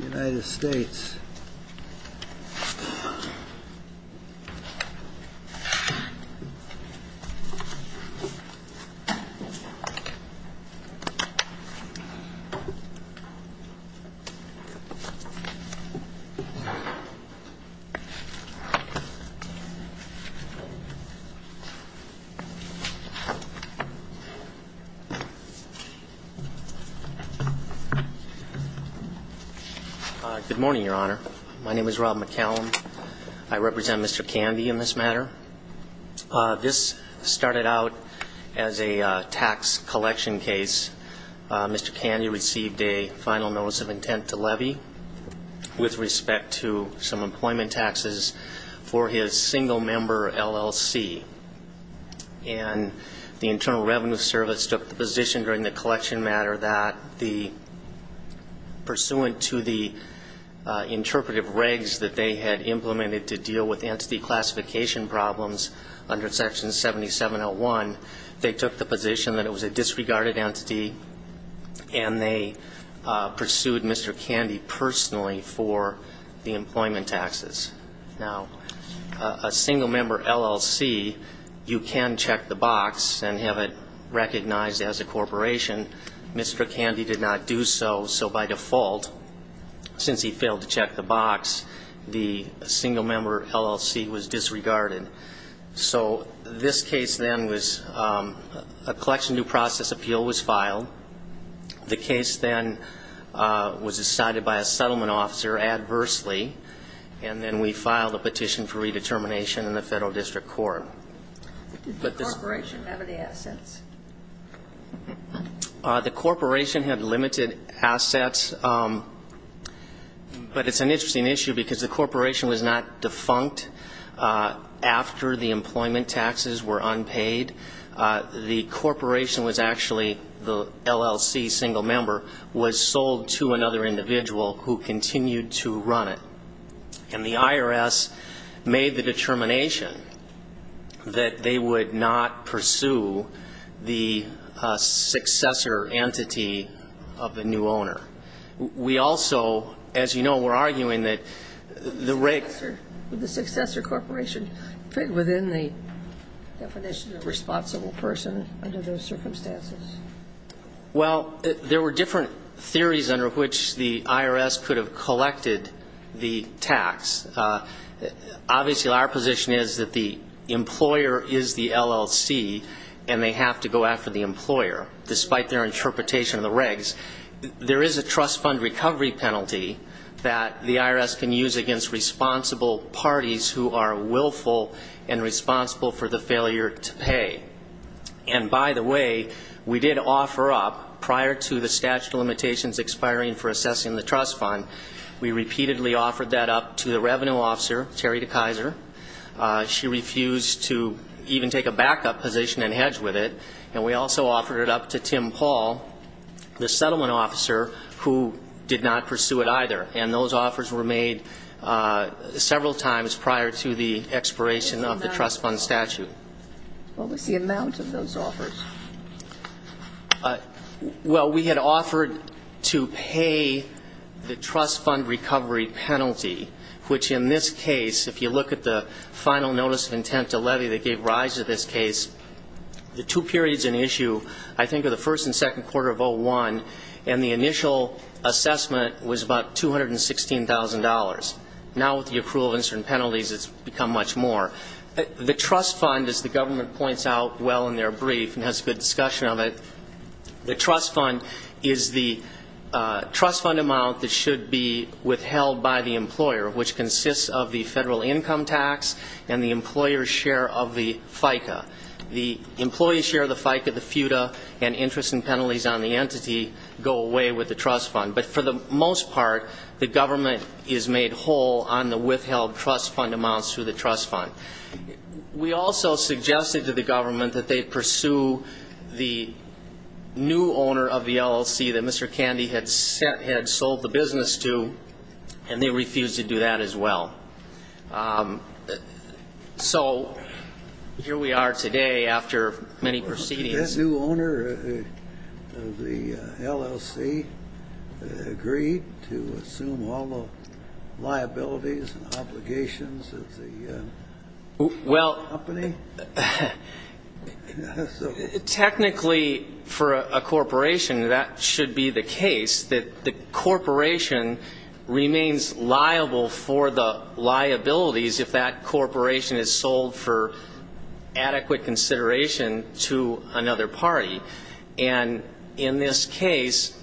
United States Good morning, Your Honor. My name is Rob McCallum. I represent Mr. Kandi in this matter. This started out as a tax collection case. Mr. Kandi received a final notice of intent to levy with respect to some employment taxes for his single-member LLC. And the Internal Revenue Service took the position during the collection matter that, pursuant to the interpretive regs that they had implemented to deal with entity classification problems under Section 7701, they took the position that it was a disregarded entity and they pursued Mr. Kandi personally for the employment taxes. Now, a single-member LLC, you can check the box and have it recognized as a corporation. Mr. Kandi did not do so. So by default, since he failed to check the box, the single-member LLC was disregarded. So this case then was a collection due process appeal was filed. The case then was decided by a settlement officer adversely. And then we filed a The corporation had limited assets. But it's an interesting issue because the corporation was not defunct after the employment taxes were unpaid. The corporation was actually the LLC single-member was sold to another individual who continued to run it. And the IRS made the determination that they would not pursue the successor entity of the new owner. We also, as you know, we're arguing that the rate of the successor corporation fit within the definition of responsible person under those circumstances. Well, there were different theories under which the IRS could have collected the LLC and they have to go after the employer, despite their interpretation of the regs. There is a trust fund recovery penalty that the IRS can use against responsible parties who are willful and responsible for the failure to pay. And by the way, we did offer up, prior to the statute of limitations expiring for assessing the trust fund, we repeatedly offered that up to the revenue officer, Terry DeKaiser. She refused to even take a backup position and hedge with it. And we also offered it up to Tim Paul, the settlement officer, who did not pursue it either. And those offers were made several times prior to the expiration of the trust fund statute. What was the amount of those offers? Well, we had offered to pay the trust fund recovery penalty, which in this case, if you look at the final notice of intent to levy that gave rise to this case, the two periods in issue, I think, are the first and second quarter of 01, and the initial assessment was about $216,000. Now, with the approval of instant penalties, it's become much more. The trust fund, as the government points out well in their brief and has good discussion of it, the trust fund is the trust fund amount that should be withheld by the employer, which consists of the federal income tax and the employer's share of the FICA. The employee's share of the FICA, the FUTA, and interest and penalties on the entity go away with the trust fund. But for the most part, the government is made whole on the withheld trust fund amounts through the trust fund. We also suggested to the government that they pursue the new owner of the LLC that Mr. Candy had sold the business to, and they refused to do that as well. So here we are today after many proceedings. Did the new owner of the LLC agree to assume all the liabilities and obligations of the company? Technically, for a corporation, that should be the case, that the corporation remains liable for the liabilities if that corporation is sold for adequate consideration to another party. And in this case,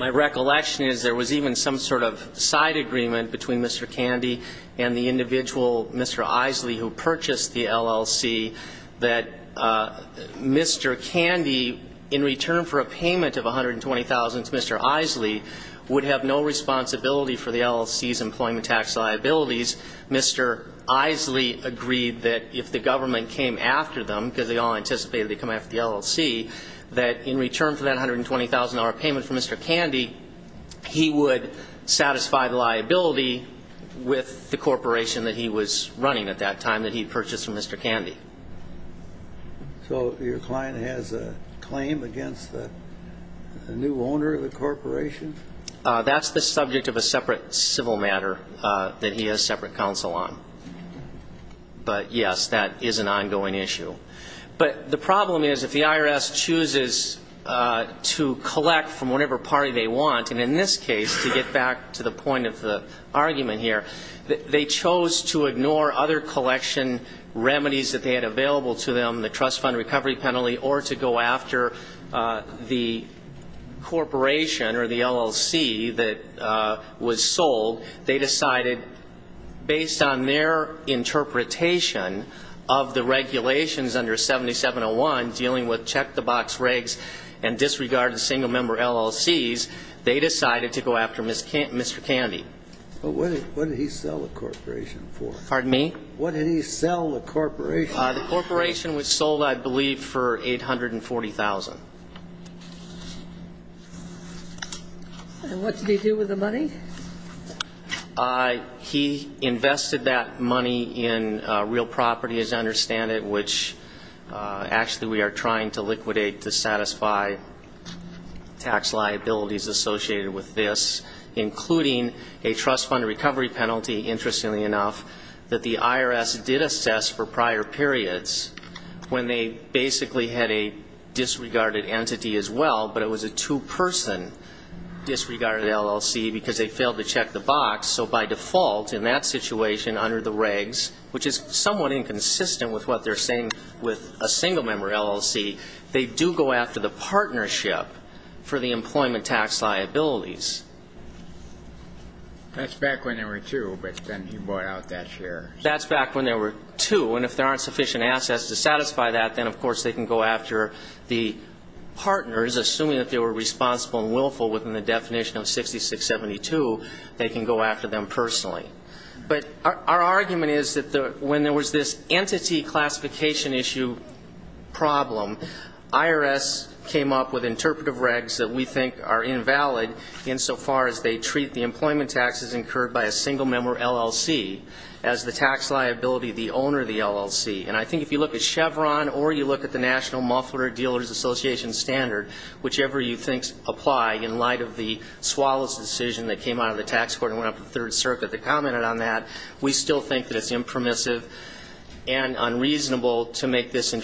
my recollection is there was even some sort of side agreement between Mr. Candy and the individual, Mr. Isley, who purchased the LLC that Mr. Candy, in return for a payment of 120,000 to Mr. Isley, would have no responsibility for the LLC's employment tax Mr. Isley agreed that if the government came after them, because they all anticipated they'd come after the LLC, that in return for that $120,000 payment from Mr. Candy, he would satisfy the liability with the corporation that he was running at that time that he purchased from Mr. Candy. So your client has a claim against the new owner of the corporation? That's the subject of a separate civil matter that he has separate counsel on. But, yes, that is an ongoing issue. But the problem is if the IRS chooses to collect from whatever party they want, and in this case, to get back to the point of the argument here, they chose to ignore other collection remedies that they had available to them, the trust fund recovery penalty, or to go after the corporation or the LLC that was sold. They decided, based on their interpretation of the regulations under 7701, dealing with check-the-box regs and disregarded single-member LLCs, they decided to go after Mr. Candy. But what did he sell the corporation for? Pardon me? What did he sell the corporation for? The corporation was sold, I believe, for $840,000. And what did he do with the money? He invested that money in real property, as I understand it, which actually we are trying to liquidate to satisfy tax liabilities associated with this, including a trust fund recovery penalty, interestingly enough, that the IRS did assess for prior periods, when they basically had a disregarded entity as well, but it was a two-person disregarded LLC because they failed to check the box. So by default, in that situation, under the regs, which is somewhat inconsistent with what they're saying with a single-member LLC, they do go after the partnership for the employment tax liabilities. That's back when there were two, but then he bought out that share. That's back when there were two. And if there aren't sufficient assets to satisfy that, then of course they can go after the partners, assuming that they were responsible and willful within the definition of 6672, they can go after them personally. But our argument is that when there was this entity classification issue problem, IRS came up with interpretive regs that we think are invalid insofar as they treat the employment taxes incurred by a single-member LLC as the tax liability of the owner of the LLC. And I think if you look at Chevron or you look at the National Muffler Dealers Association standard, whichever you think applies in light of the Swallows decision that came out of the tax court and went up to the Third Circuit that commented on that, we still think that it's impromissive and unreasonable to make this a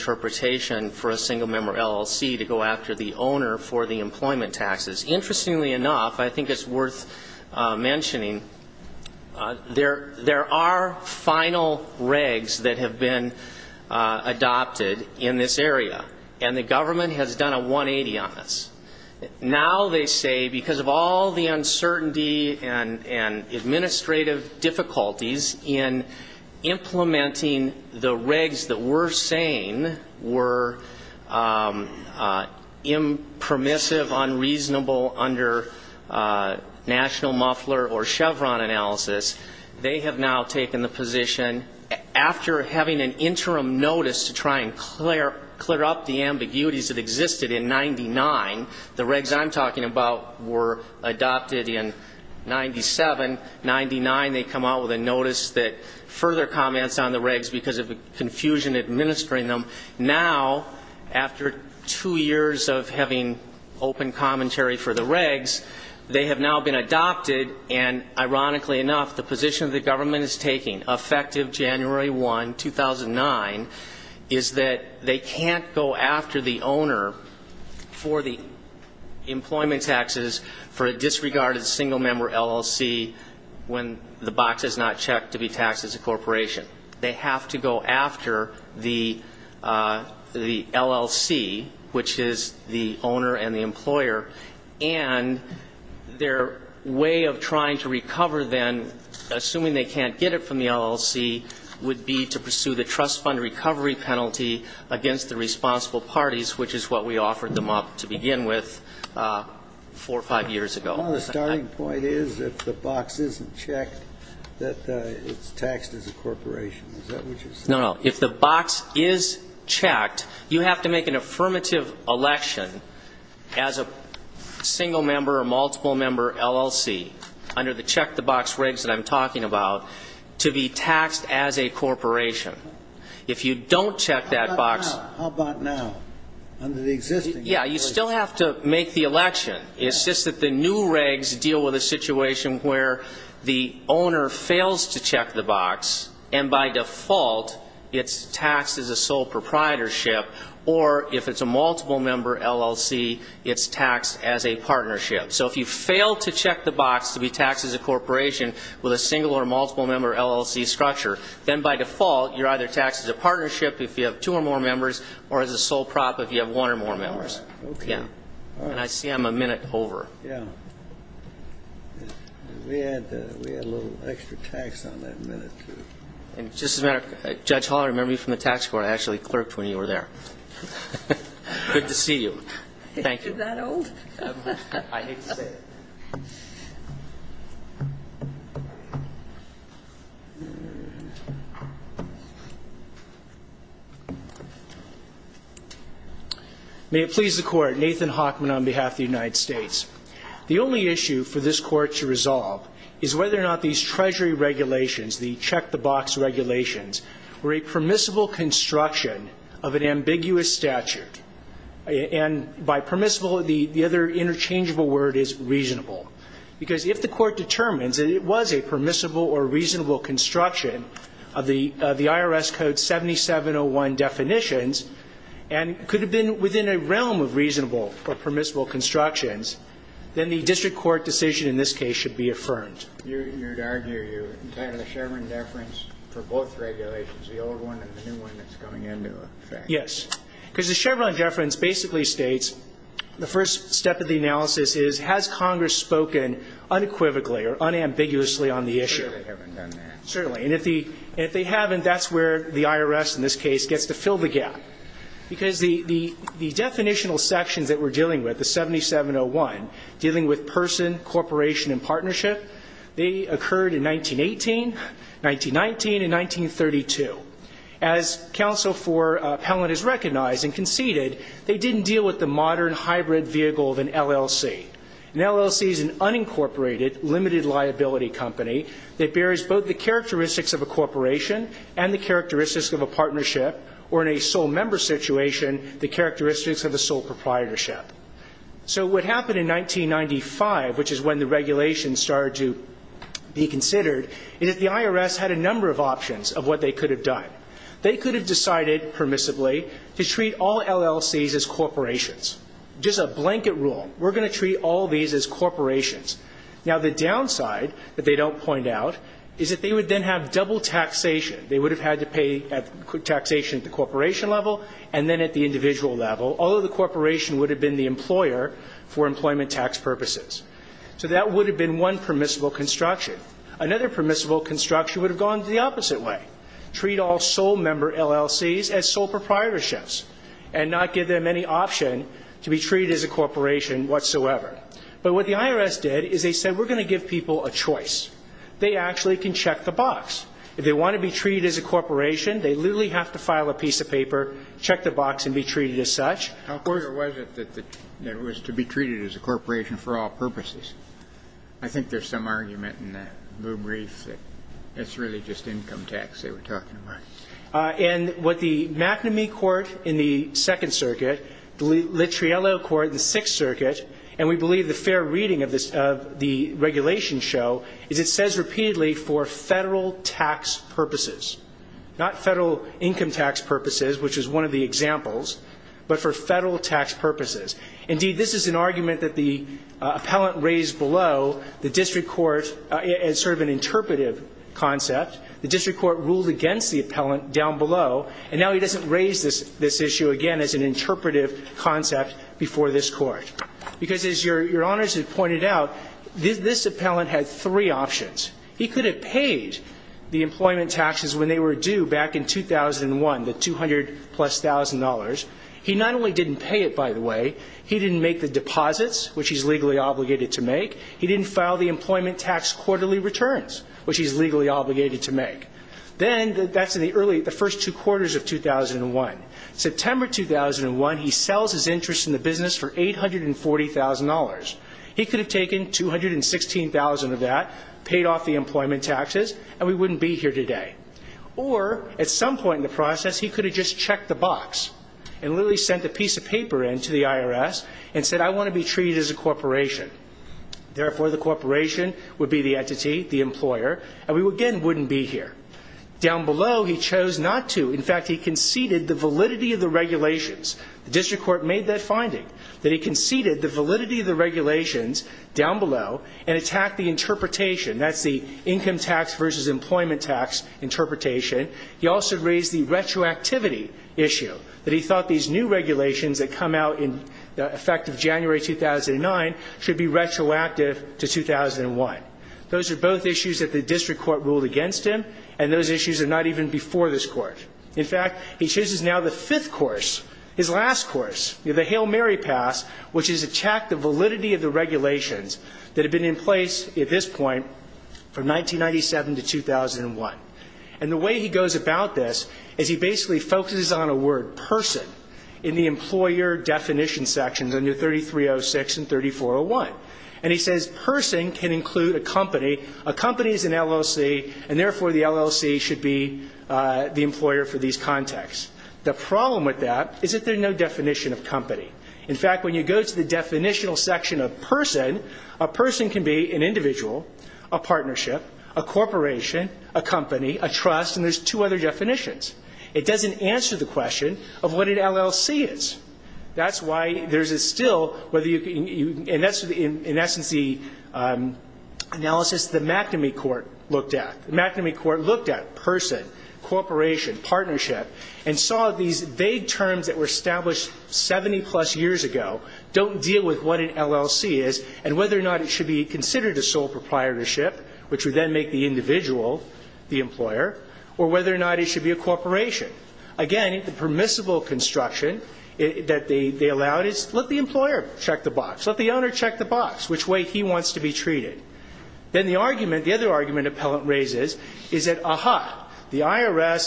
single-member LLC to go after the owner for the employment taxes. Interestingly enough, I think it's worth mentioning, there are final regs that have been adopted in this area, and the government has done a 180 on this. Now they say because of all the uncertainty and administrative difficulties in implementing the regs that we're saying were impromissive, unreasonable under National Muffler or Chevron analysis, they have now taken the position, after having an interim notice to try and clear up the ambiguities that existed in 99, the regs I'm talking about were adopted in 97. They come out with a notice that further comments on the regs because of confusion administering them. Now, after two years of having open commentary for the regs, they have now been adopted. And ironically enough, the position the government is taking, effective January 1, 2009, is that they can't go after the owner for the employment taxes for a disregarded single-member LLC when the box is not checked to be taxed as a corporation. They have to go after the LLC, which is the owner and the employer, and their way of trying to recover then, assuming they can't get it from the LLC, would be to pursue the trust fund recovery penalty against the responsible parties, which is what we offered them up to begin with four or five years ago. Well, the starting point is, if the box isn't checked, that it's taxed as a corporation. Is that what you're saying? No, no. If the box is checked, you have to make an affirmative election as a single-member or multiple-member LLC, under the check the box regs that I'm talking about, to be taxed as a corporation. If you don't check that box. How about now? Yeah, you still have to make the election. It's just that the new regs deal with a situation where the owner fails to check the box and, by default, it's taxed as a sole proprietorship, or if it's a multiple-member LLC, it's taxed as a partnership. So if you fail to check the box to be taxed as a corporation with a single- or multiple-member LLC structure, then, by default, you're either taxed as a partnership if you have two or more members, or as a sole prop if you have one or more members. Okay. And I see I'm a minute over. Yeah. We had a little extra tax on that minute, too. And just as a matter of fact, Judge Hall, I remember you from the tax court. I actually clerked when you were there. Good to see you. Thank you. Is it that old? I hate to say it. May it please the Court. Nathan Hockman on behalf of the United States. The only issue for this Court to resolve is whether or not these Treasury regulations, the check-the-box regulations, were a permissible construction of an ambiguous statute. And by permissible, the other interchangeable word is reasonable. Because if the Court determines that it was a permissible or reasonable construction of the IRS Code 7701 definitions and could have been within a realm of reasonable or permissible constructions, then the district court decision in this case should be affirmed. You would argue you entitled the Chevron deference for both regulations, the old one and the new one that's coming into effect. Yes. Because the Chevron deference basically states, the first step of the analysis is, has Congress spoken unequivocally or unambiguously on the issue? Certainly they haven't done that. Certainly. And if they haven't, that's where the IRS in this case gets to fill the gap. Because the definitional sections that we're dealing with, the 7701, dealing with person, corporation, and partnership, they occurred in 1918, 1919, and 1932. As counsel for Appellant has recognized and conceded, they didn't deal with the modern hybrid vehicle of an LLC. An LLC is an unincorporated, limited liability company that bears both the characteristics of a corporation and the characteristics of a partnership, or in a sole member situation, the characteristics of a sole proprietorship. So what happened in 1995, which is when the regulations started to be considered, is that the IRS had a number of options of what they could have done. They could have decided permissibly to treat all LLCs as corporations. Just a blanket rule. We're going to treat all these as corporations. Now, the downside that they don't point out is that they would then have double taxation. They would have had to pay taxation at the corporation level and then at the individual level, although the corporation would have been the employer for employment tax purposes. So that would have been one permissible construction. Another permissible construction would have gone the opposite way, treat all sole member LLCs as sole proprietorships and not give them any option to be treated as a corporation whatsoever. But what the IRS did is they said we're going to give people a choice. They actually can check the box. If they want to be treated as a corporation, they literally have to file a piece of paper, check the box, and be treated as such. How clear was it that it was to be treated as a corporation for all purposes? I think there's some argument in the brief that it's really just income tax they were talking about. And what the McNamee court in the Second Circuit, the Littriello court in the Sixth Circuit, and we believe the fair reading of the regulation show, is it says repeatedly for Federal tax purposes, not Federal income tax purposes, which is one of the examples, but for Federal tax purposes. Indeed, this is an argument that the appellant raised below the district court as sort of an interpretive concept. The district court ruled against the appellant down below, and now he doesn't raise this issue again as an interpretive concept before this court. Because as Your Honors has pointed out, this appellant had three options. He could have paid the employment taxes when they were due back in 2001, the $200,000-plus. He not only didn't pay it, by the way, he didn't make the deposits, which he's legally obligated to make. He didn't file the employment tax quarterly returns, which he's legally obligated to make. Then that's in the early, the first two quarters of 2001. September 2001, he sells his interest in the business for $840,000. He could have taken $216,000 of that, paid off the employment taxes, and we wouldn't be here today. Or at some point in the process, he could have just checked the box and literally sent a piece of paper in to the IRS and said, I want to be treated as a corporation. Therefore, the corporation would be the entity, the employer, and we again wouldn't be here. Down below, he chose not to. In fact, he conceded the validity of the regulations. The district court made that finding, that he conceded the validity of the regulations down below and attacked the interpretation, that's the income tax versus employment tax interpretation. He also raised the retroactivity issue, that he thought these new regulations that come out in the effect of January 2009 should be retroactive to 2001. Those are both issues that the district court ruled against him, and those issues are not even before this court. In fact, he chooses now the fifth course, his last course, the Hail Mary pass, which is to check the validity of the regulations that have been in place at this point from 1997 to 2001. And the way he goes about this is he basically focuses on a word, person, in the employer definition sections under 3306 and 3401. And he says person can include a company. A company is an LLC, and therefore the LLC should be the employer for these contexts. The problem with that is that there's no definition of company. In fact, when you go to the definitional section of person, a person can be an individual, a partnership, a corporation, a company, a trust, and there's two other definitions. It doesn't answer the question of what an LLC is. That's why there's still, and that's in essence the analysis the McNamee court looked at. The McNamee court looked at person, corporation, partnership, and saw these vague terms that were established 70-plus years ago don't deal with what an LLC is and whether or not it should be considered a sole proprietorship, which would then make the individual the employer, or whether or not it should be a corporation. Again, the permissible construction that they allowed is let the employer check the box, let the owner check the box, which way he wants to be treated. Then the argument, the other argument appellant raises is that, ah-ha, the IRS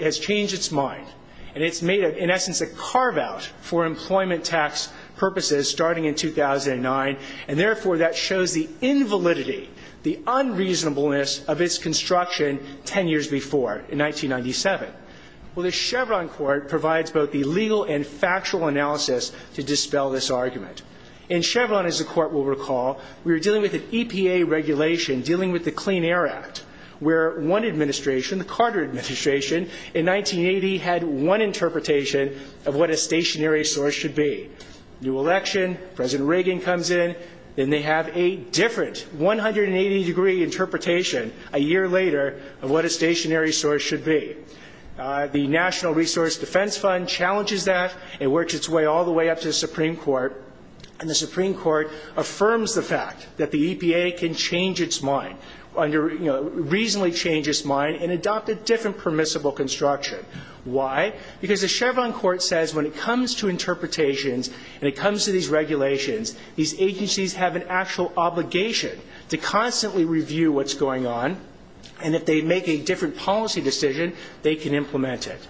has changed its mind, and it's made in essence a carve-out for employment tax purposes starting in 2009, and therefore that shows the invalidity, the unreasonableness of its construction 10 years before in 1997. Well, the Chevron court provides both the legal and factual analysis to dispel this argument. In Chevron, as the court will recall, we were dealing with an EPA regulation dealing with the Clean Air Act, where one administration, the Carter administration, in 1980 had one interpretation of what a stationary source should be. New election, President Reagan comes in, then they have a different 180-degree interpretation a year later of what a stationary source should be. The National Resource Defense Fund challenges that. It works its way all the way up to the Supreme Court, and the Supreme Court affirms the fact that the EPA can change its mind under, you know, reasonably change its mind and adopt a different permissible construction. Why? Because the Chevron court says when it comes to interpretations and it comes to these regulations, these agencies have an actual obligation to constantly review what's going on, and if they make a different policy decision, they can implement it.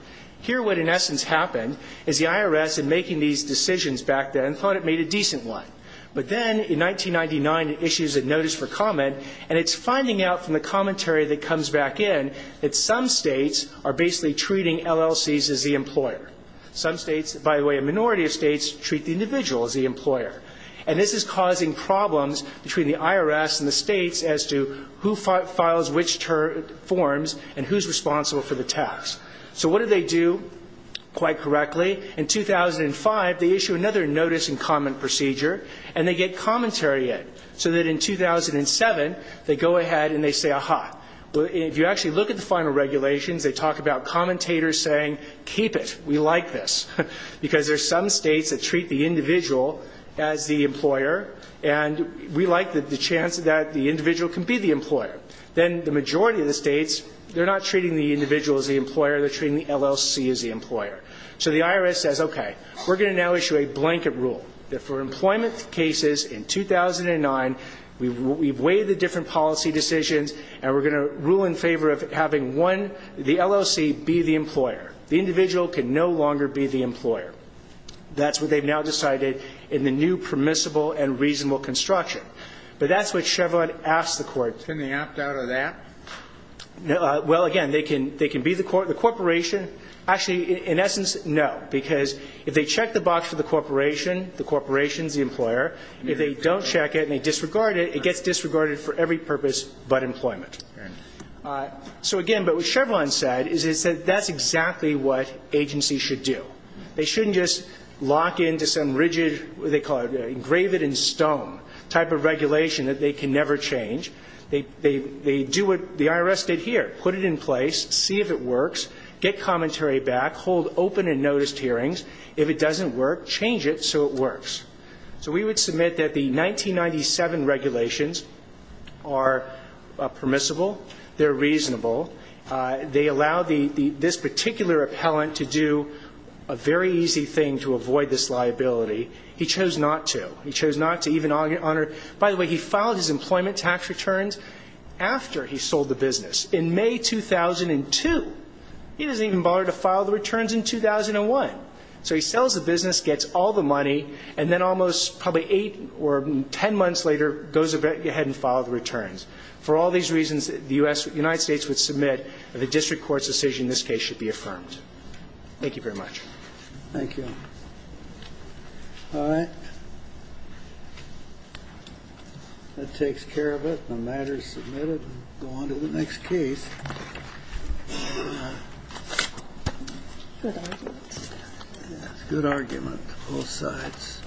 Here, what in essence happened is the IRS, in making these decisions back then, thought it made a decent one. But then, in 1999, it issues a notice for comment, and it's finding out from the commentary that comes back in that some states are basically treating LLCs as the employer. Some states, by the way, a minority of states, treat the individual as the employer. And this is causing problems between the IRS and the states as to who files which forms and who's responsible for the tax. So what do they do quite correctly? In 2005, they issue another notice and comment procedure, and they get commentary in, so that in 2007, they go ahead and they say, aha. If you actually look at the final regulations, they talk about commentators saying, keep it, we like this, because there's some states that treat the individual as the employer, and we like the chance that the individual can be the employer. Then the majority of the states, they're not treating the individual as the employer. They're treating the LLC as the employer. So the IRS says, okay, we're going to now issue a blanket rule that for employment cases in 2009, we've weighed the different policy decisions, and we're going to rule in favor of having one, the LLC, be the employer. The individual can no longer be the employer. That's what they've now decided in the new permissible and reasonable construction. But that's what Chevron asks the court. Can they opt out of that? Well, again, they can be the corporation. Actually, in essence, no, because if they check the box for the corporation, the corporation is the employer. If they don't check it and they disregard it, it gets disregarded for every purpose but employment. So, again, but what Chevron said is that that's exactly what agencies should do. They shouldn't just lock into some rigid, what do they call it, engraved in stone type of regulation that they can never change. They do what the IRS did here, put it in place, see if it works, get commentary back, hold open and noticed hearings. If it doesn't work, change it so it works. So we would submit that the 1997 regulations are permissible. They're reasonable. They allow this particular appellant to do a very easy thing to avoid this liability. He chose not to. He chose not to even honor. By the way, he filed his employment tax returns after he sold the business in May 2002. He doesn't even bother to file the returns in 2001. So he sells the business, gets all the money, and then almost probably eight or ten months later goes ahead and filed the returns. For all these reasons, the United States would submit that the district court's decision in this case should be affirmed. Thank you very much. Thank you. All right. That takes care of it. The matter is submitted. We'll go on to the next case. Good argument. Good argument on both sides.